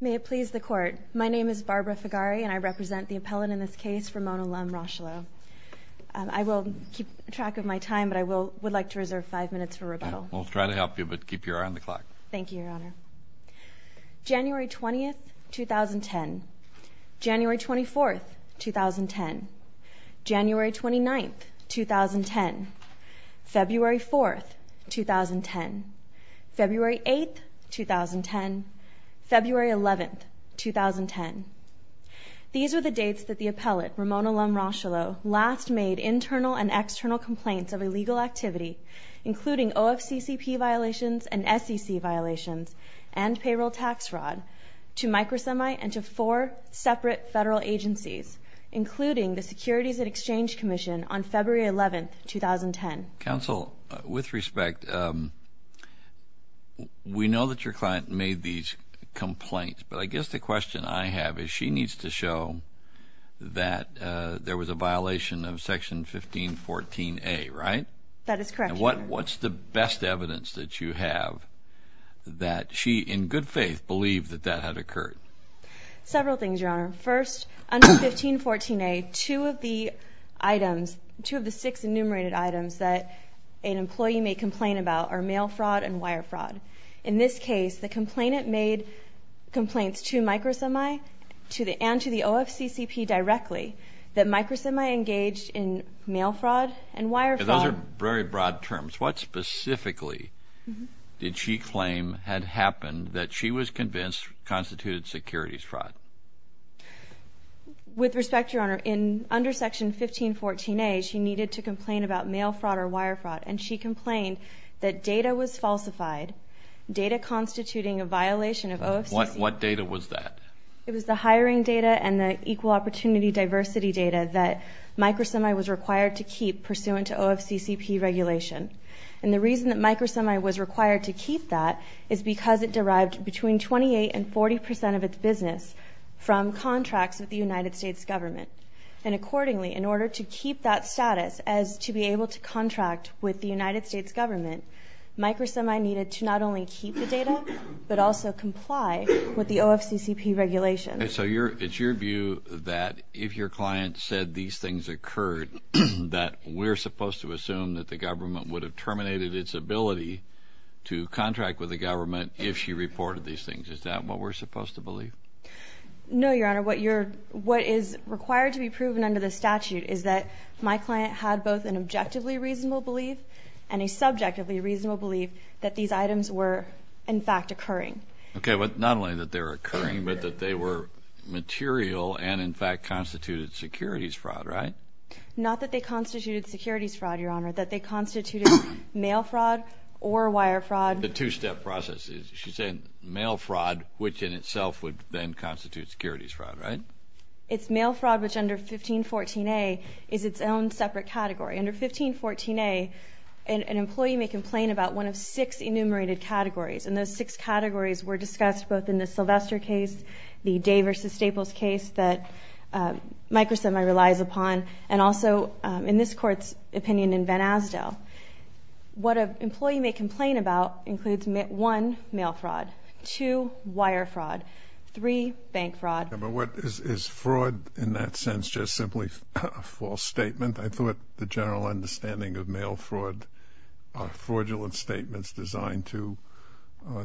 May it please the Court. My name is Barbara Figari and I represent the appellant in this case, Ramona Lum Rocheleau. I will keep track of my time but I would like to reserve five minutes for rebuttal. We'll try to help you but keep your eye on the clock. Thank you, Your Honor. January 20th, 2010. January 24th, 2010. January 29th, 2010. February 4th, 2010. February 8th, 2010. February 11th, 2010. These are the dates that the appellate, Ramona Lum Rocheleau, last made internal and external complaints of illegal activity including OFCCP violations and SEC violations and payroll tax fraud to Microsemi and to four separate federal agencies including the Securities and Exchange Commission on February 11th, 2010. Counsel, with respect, we know that your client made these complaints but I guess the question I have is she needs to show that there was a violation of Section 1514A, right? That is correct. What's the best evidence that you have that she, in good faith, believed that that had occurred? Several things, Your Honor. First, under 1514A, two of the items, two of the six enumerated items that an employee may complain about are mail fraud and wire fraud. In this case, the complainant made complaints to Microsemi and to the OFCCP directly that Microsemi engaged in mail fraud and wire fraud. Those are very broad terms. What specifically did she claim had happened that she was convinced constituted securities fraud? With respect, Your Honor, under Section 1514A, she needed to complain about mail fraud or wire fraud and she complained that data was falsified, data constituting a violation of OFCCP. What data was that? It was the hiring data and the equal opportunity diversity data that Microsemi was required to keep pursuant to OFCCP regulation. And the reason that Microsemi needed to not only keep the data, but also comply with the OFCCP regulation. And so it's your view that if your client said these things occurred, that we're supposed to assume that the government would have terminated its ability to contract with the government if she reported these things to us. Is that what we're supposed to believe? No, Your Honor. What is required to be proven under the statute is that my client had both an objectively reasonable belief and a subjectively reasonable belief that these items were, in fact, occurring. Okay, but not only that they were occurring, but that they were material and, in fact, constituted securities fraud, right? Not that they constituted securities fraud, Your Honor. That they constituted mail fraud or wire fraud. The two-step process. She's saying mail fraud, which in itself would then constitute securities fraud, right? It's mail fraud, which under 1514A is its own separate category. Under 1514A, an employee may complain about one of six enumerated categories. And those six categories were discussed both in the Sylvester case, the Day v. Staples case that Microsemi relies upon, and also in this Court's opinion in Van Asdale. What an employee may complain about includes, one, mail fraud, two, wire fraud, three, bank fraud. But is fraud in that sense just simply a false statement? I thought the general understanding of mail fraud are fraudulent statements designed to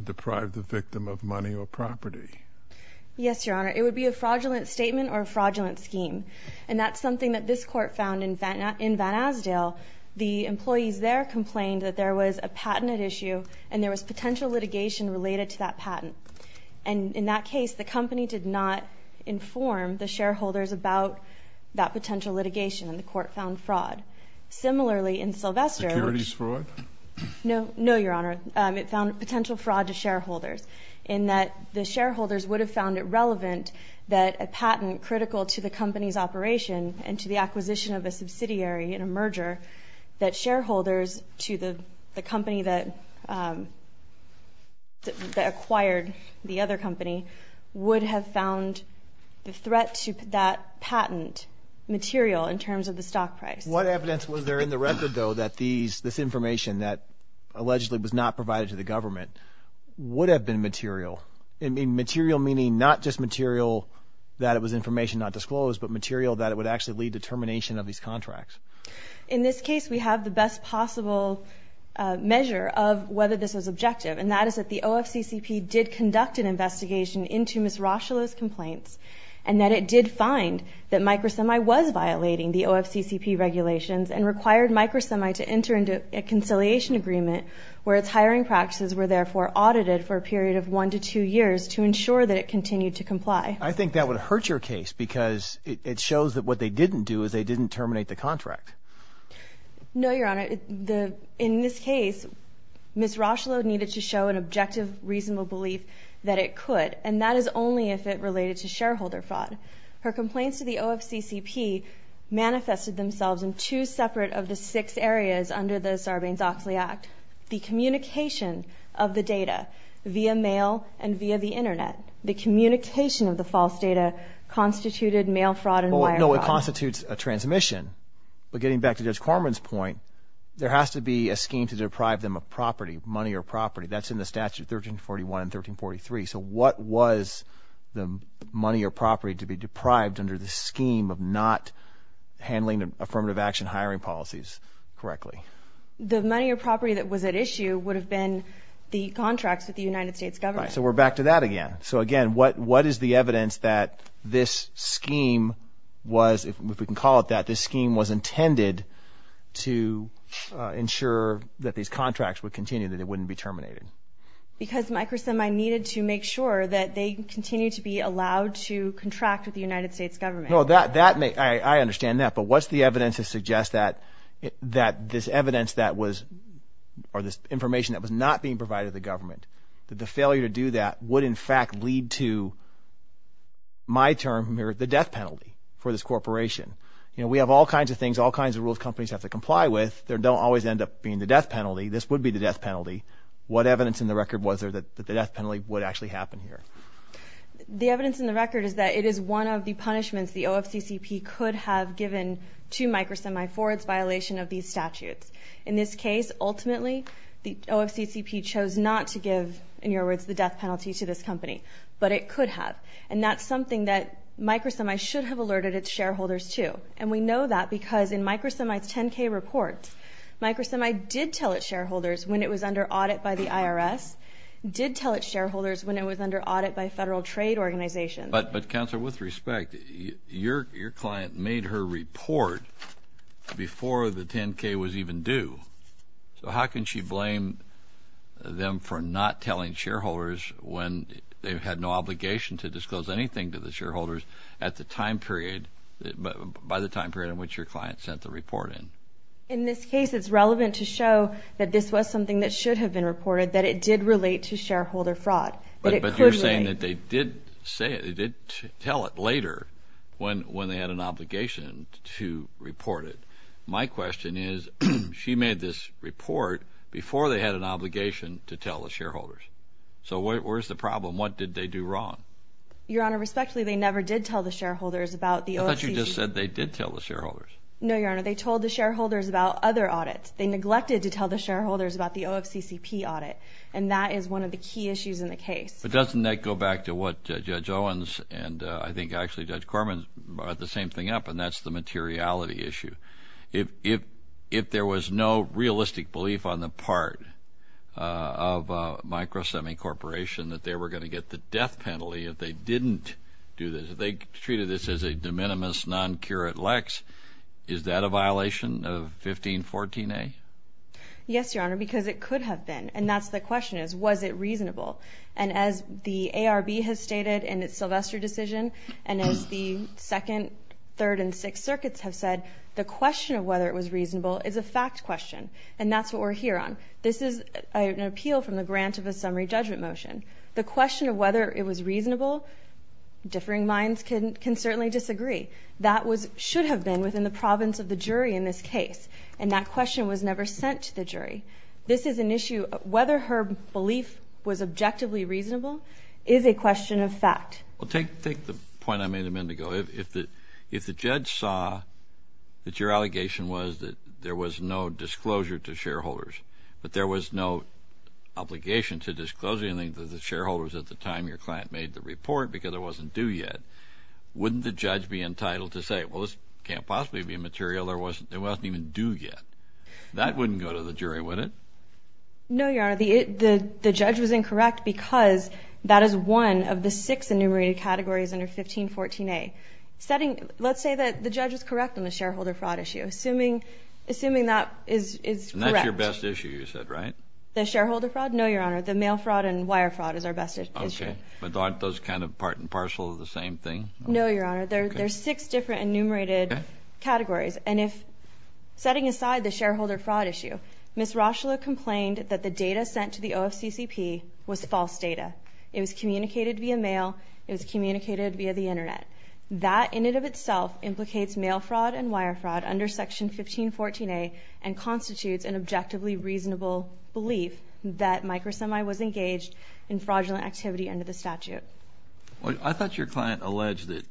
deprive the victim of money or property. Yes, Your Honor. It would be a fraudulent statement or a fraudulent scheme. And that's something that this Court found in Van Asdale. The employees there complained that there was a patented issue, and there was potential litigation related to that patent. And in that case, the company did not inform the shareholders about that potential litigation, and the Court found fraud. Similarly, in Sylvester, which no, no, Your Honor, it found potential fraud to shareholders. In that the shareholders would have found it relevant that a patent critical to the company's operation and to the acquisition of a subsidiary in a merger, that shareholders to the company that acquired the other company would have found the threat to that patent material in terms of the stock price. What evidence was there in the record, though, that this information that allegedly was not provided to the government would have been material? I mean, material meaning not just material that it was information not disclosed, but material that it would actually lead to termination of these contracts. In this case, we have the best possible measure of whether this was objective, and that is that the OFCCP did conduct an investigation into Ms. Rocheleau's complaints, and that it did find that MicroSemi was violating the OFCCP regulations and required MicroSemi to enter into a conciliation agreement where its hiring practices were therefore audited for a period of one to two years to ensure that it continued to comply. I think that would hurt your case because it shows that what they didn't do is they didn't terminate the contract. No, Your Honor. In this case, Ms. Rocheleau needed to show an objective, reasonable belief that it could, and that is only if it related to shareholder fraud. Her complaints to the OFCCP manifested themselves in two separate of the six areas under the Sarbanes-Oxley Act, the communication of the data via mail and via the Internet. The communication of the false data constituted mail fraud and wire fraud. I know it constitutes a transmission, but getting back to Judge Corman's point, there has to be a scheme to deprive them of property, money or property. That's in the statute 1341 and 1343. So what was the money or property to be deprived under the scheme of not handling affirmative action hiring policies correctly? The money or property that was at issue would have been the contracts with the United States government. Right. So we're back to that again. So, again, what is the evidence that this scheme was, if we can call it that, this scheme was intended to ensure that these contracts would continue, that it wouldn't be terminated? Because, Mike Grissom, I needed to make sure that they continue to be allowed to contract with the United States government. I understand that, but what's the evidence that suggests that this evidence that was or this information that was not being provided to the government, that the failure to do that would in fact lead to, my term here, the death penalty for this corporation? You know, we have all kinds of things, all kinds of rules companies have to comply with. They don't always end up being the death penalty. This would be the death penalty. What evidence in the record was there that the death penalty would actually happen here? The evidence in the record is that it is one of the punishments the OFCCP could have given to MicroSemi for its violation of these statutes. In this case, ultimately, the OFCCP chose not to give, in your words, the death penalty to this company, but it could have. And that's something that MicroSemi should have alerted its shareholders to. And we know that because in MicroSemi's 10-K report, MicroSemi did tell its shareholders when it was under audit by the IRS, did tell its shareholders when it was under audit by federal trade organizations. But, Counselor, with respect, your client made her report before the 10-K was even due. So how can she blame them for not telling shareholders when they had no obligation to disclose anything to the shareholders at the time period, by the time period in which your client sent the report in? In this case, it's relevant to show that this was something that should have been reported, that it did relate to shareholder fraud. But you're saying that they did tell it later when they had an obligation to report it. My question is, she made this report before they had an obligation to tell the shareholders. So where's the problem? What did they do wrong? Your Honor, respectfully, they never did tell the shareholders about the OFCCP. I thought you just said they did tell the shareholders. No, Your Honor. They told the shareholders about other audits. They neglected to tell the shareholders about the OFCCP audit. And that is one of the key issues in the case. But doesn't that go back to what Judge Owens and I think actually Judge Corman brought the same thing up, and that's the materiality issue. If there was no realistic belief on the part of Micro Semi Corporation that they were going to get the death penalty if they didn't do this, if they treated this as a de minimis non curate lex, is that a violation of 1514A? Yes, Your Honor, because it could have been. And that's the question is, was it reasonable? And as the ARB has stated in its Sylvester decision, and as the Second, Third, and Sixth Circuits have said, the question of whether it was reasonable is a fact question. And that's what we're here on. This is an appeal from the grant of a summary judgment motion. The question of whether it was reasonable, differing minds can certainly disagree. That should have been within the province of the jury in this case. And that question was never sent to the jury. This is an issue of whether her belief was objectively reasonable is a question of fact. Well, take the point I made a minute ago. If the judge saw that your allegation was that there was no disclosure to shareholders, but there was no obligation to disclosure, including to the shareholders at the time your client made the report because it wasn't due yet, wouldn't the judge be entitled to say, well, this can't possibly be a material that wasn't even due yet? That wouldn't go to the jury, would it? No, Your Honor. The judge was incorrect because that is one of the six enumerated categories under 1514A. Let's say that the judge was correct on the shareholder fraud issue, assuming that is correct. And that's your best issue, you said, right? The shareholder fraud? No, Your Honor. The mail fraud and wire fraud is our best issue. Okay. But aren't those kind of part and parcel of the same thing? No, Your Honor. There are six different enumerated categories. And if, setting aside the shareholder fraud issue, Ms. Roshula complained that the data sent to the OFCCP was false data. It was communicated via mail. It was communicated via the Internet. That in and of itself implicates mail fraud and wire fraud under Section 1514A and constitutes an objectively reasonable belief that MicroSemi was engaged in fraudulent activity under the statute. I thought your client alleged that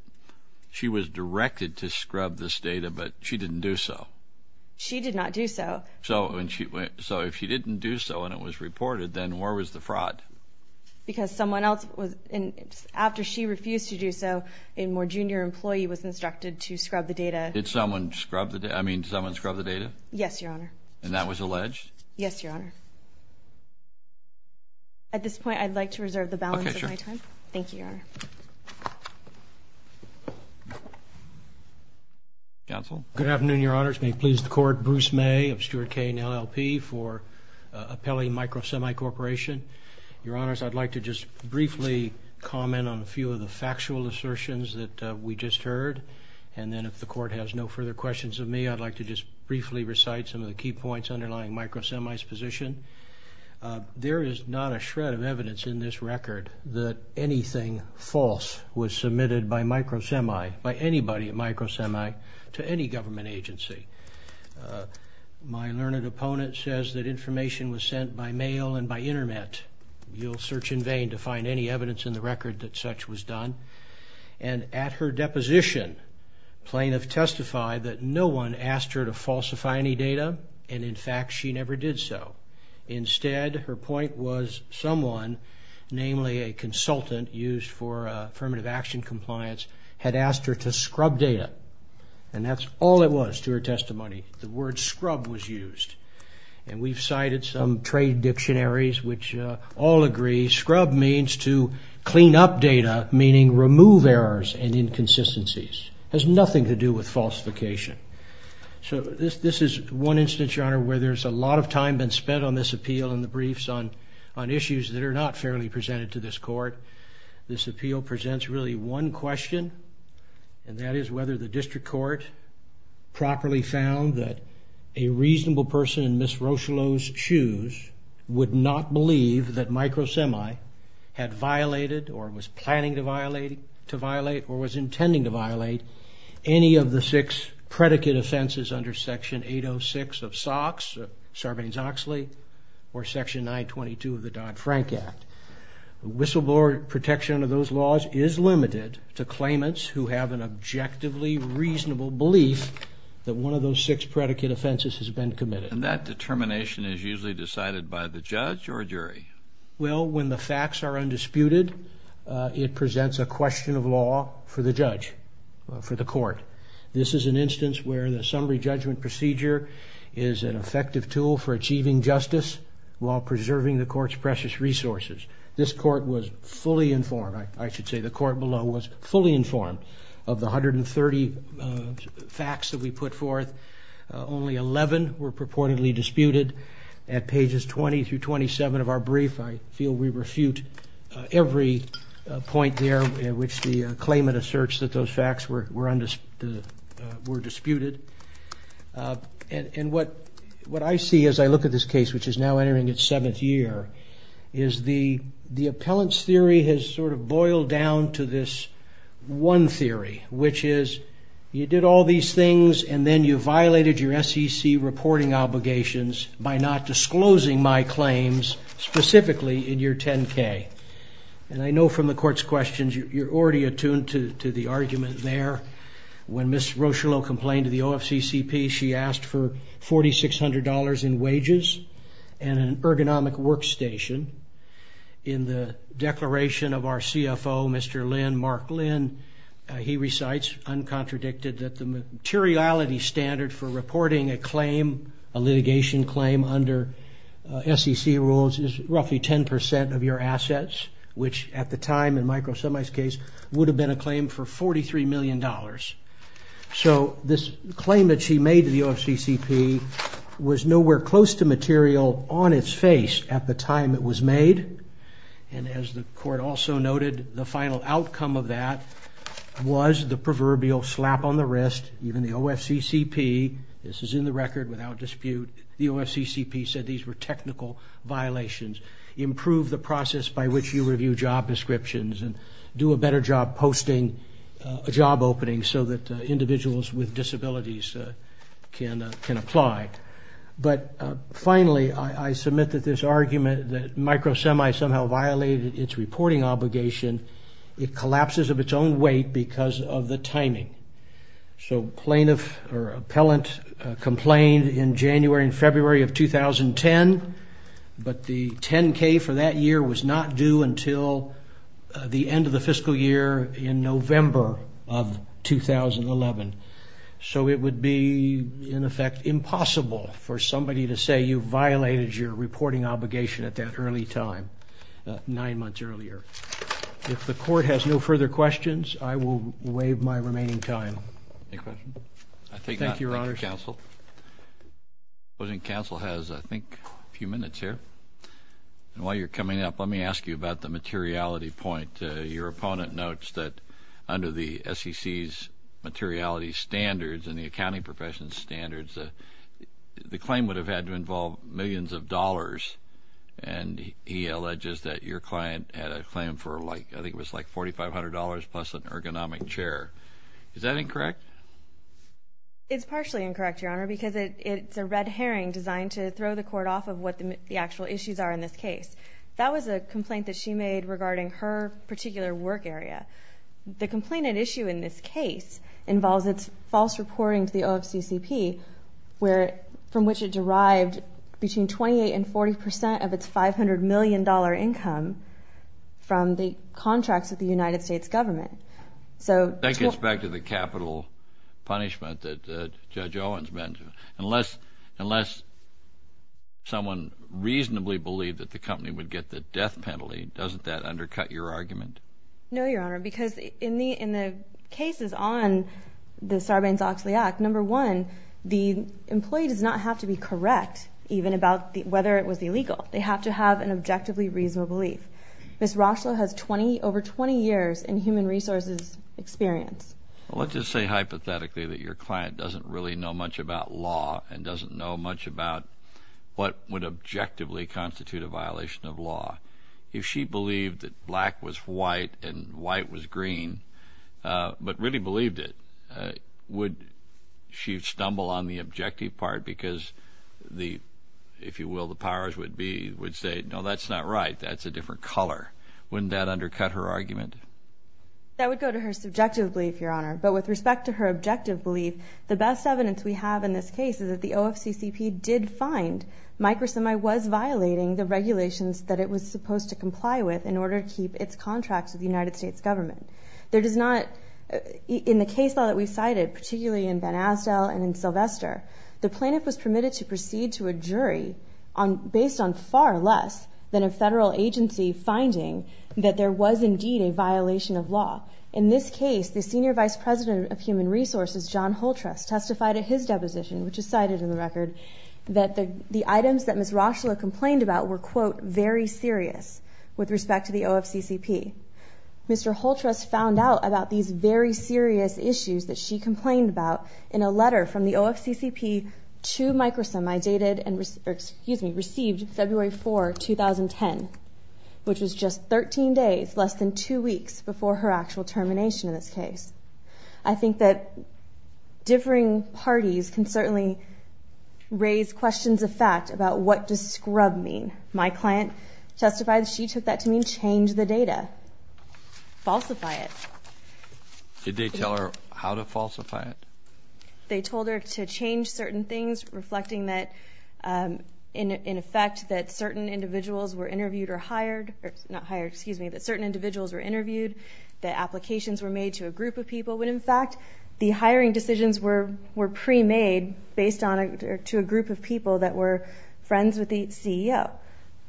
she was directed to scrub this data, but she didn't do so. She did not do so. So if she didn't do so and it was reported, then where was the fraud? Because someone else, after she refused to do so, a more junior employee was instructed to scrub the data. Did someone scrub the data? I mean, did someone scrub the data? Yes, Your Honor. And that was alleged? Yes, Your Honor. At this point, I'd like to reserve the balance of my time. Okay, sure. Thank you, Your Honor. Counsel? Good afternoon, Your Honors. May it please the Court, Bruce May of Stuart K. and LLP for appellee MicroSemi Corporation. Your Honors, I'd like to just briefly comment on a few of the factual assertions that we just heard. And then if the Court has no further questions of me, I'd like to just briefly recite some of the key points underlying MicroSemi's position. There is not a shred of evidence in this record that anything false was submitted by MicroSemi, by anybody at MicroSemi, to any government agency. My learned opponent says that information was sent by mail and by Internet. You'll search in vain to find any evidence in the record that such was done. And at her deposition, plaintiff testified that no one asked her to falsify any data. And, in fact, she never did so. Instead, her point was someone, namely a consultant used for affirmative action compliance, had asked her to scrub data. And that's all it was to her testimony. The word scrub was used. And we've cited some trade dictionaries which all agree scrub means to clean up data, meaning remove errors and inconsistencies. It has nothing to do with falsification. So this is one instance, Your Honor, where there's a lot of time been spent on this appeal and the briefs on issues that are not fairly presented to this Court. This appeal presents really one question, and that is whether the District Court properly found that a reasonable person in Ms. Rocheleau's shoes would not believe that MicroSemi had violated or was planning to violate or was intending to violate any of the six predicate offenses under Section 806 of SOX, Sarbanes-Oxley, or Section 922 of the Dodd-Frank Act. Whistleblower protection of those laws is limited to claimants who have an objectively reasonable belief that one of those six predicate offenses has been committed. And that determination is usually decided by the judge or jury? Well, when the facts are undisputed, it presents a question of law for the judge, for the Court. This is an instance where the summary judgment procedure is an effective tool for achieving justice while preserving the Court's precious resources. This Court was fully informed, I should say, the Court below was fully informed of the 130 facts that we put forth. Only 11 were purportedly disputed. At pages 20 through 27 of our brief, I feel we refute every point there in which the claimant asserts that those facts were disputed. And what I see as I look at this case, which is now entering its seventh year, is the appellant's theory has sort of boiled down to this one theory, which is, you did all these things, and then you violated your SEC reporting obligations by not disclosing my claims specifically in your 10-K. And I know from the Court's questions, you're already attuned to the argument there. When Ms. Rocheleau complained to the OFCCP, she asked for $4,600 in wages and an ergonomic workstation. In the declaration of our CFO, Mr. Lin, Mark Lin, he recites uncontradicted that the materiality standard for reporting a claim, a litigation claim under SEC rules, is roughly 10% of your assets, which at the time in Michael Semey's case would have been a claim for $43 million. So this claim that she made to the OFCCP was nowhere close to material on its face at the time it was made. And as the Court also noted, the final outcome of that was the proverbial slap on the wrist. Even the OFCCP, this is in the record without dispute, the OFCCP said these were technical violations. Improve the process by which you review job descriptions and do a better job posting a job opening so that individuals with disabilities can apply. But finally, I submit that this argument that Michael Semey somehow violated its reporting obligation, it collapses of its own weight because of the timing. So plaintiff or appellant complained in January and February of 2010, but the 10K for that year was not due until the end of the fiscal year in November of 2011. So it would be, in effect, impossible for somebody to say you violated your reporting obligation at that early time, nine months earlier. If the Court has no further questions, I will waive my remaining time. Any questions? I take that. Thank you, Your Honors. Thank you, Counsel. Supposing Counsel has, I think, a few minutes here. And while you're coming up, let me ask you about the materiality point. Your opponent notes that under the SEC's materiality standards and the accounting profession's standards, the claim would have had to involve millions of dollars. And he alleges that your client had a claim for, I think it was like $4,500 plus an ergonomic chair. Is that incorrect? It's partially incorrect, Your Honor, because it's a red herring designed to throw the Court off of what the actual issues are in this case. That was a complaint that she made regarding her particular work area. The complaint at issue in this case involves its false reporting to the OFCCP, from which it derived between 28 and 40 percent of its $500 million income from the contracts with the United States government. That gets back to the capital punishment that Judge Owen's been to. Unless someone reasonably believed that the company would get the death penalty, doesn't that undercut your argument? No, Your Honor, because in the cases on the Sarbanes-Oxley Act, number one, the employee does not have to be correct even about whether it was illegal. They have to have an objectively reasonable belief. Ms. Rochlow has over 20 years in human resources experience. Well, let's just say hypothetically that your client doesn't really know much about law and doesn't know much about what would objectively constitute a violation of law. If she believed that black was white and white was green, but really believed it, would she stumble on the objective part? Because the, if you will, the powers would be, would say, no, that's not right. That's a different color. Wouldn't that undercut her argument? That would go to her subjective belief, Your Honor. But with respect to her objective belief, the best evidence we have in this case is that the OFCCP did find Microsemi was violating the regulations that it was supposed to comply with in order to keep its contracts with the United States government. There does not, in the case law that we cited, particularly in Van Asdel and in Sylvester, the plaintiff was permitted to proceed to a jury based on far less than a federal agency finding that there was indeed a violation of law. In this case, the Senior Vice President of Human Resources, John Holtrust, testified at his deposition, which is cited in the record, that the items that Ms. Roeschler complained about were, quote, very serious with respect to the OFCCP. Which was just 13 days, less than two weeks, before her actual termination in this case. I think that differing parties can certainly raise questions of fact about what does scrub mean. My client testified that she took that to mean change the data, falsify it. Did they tell her how to falsify it? They told her to change certain things, reflecting that, in effect, that certain individuals were interviewed or hired. Not hired, excuse me. That certain individuals were interviewed. That applications were made to a group of people. When, in fact, the hiring decisions were pre-made based to a group of people that were friends with the CEO.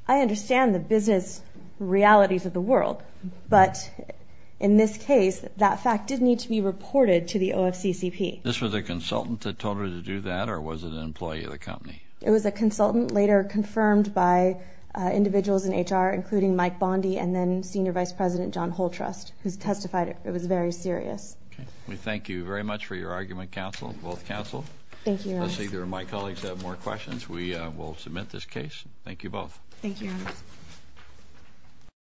I understand the business realities of the world. But in this case, that fact did need to be reported to the OFCCP. This was a consultant that told her to do that, or was it an employee of the company? It was a consultant, later confirmed by individuals in HR, including Mike Bondy and then Senior Vice President John Holtrust, who testified it was very serious. Okay. We thank you very much for your argument, counsel, both counsel. Thank you, Your Honor. Unless either of my colleagues have more questions, we will submit this case. Thank you both.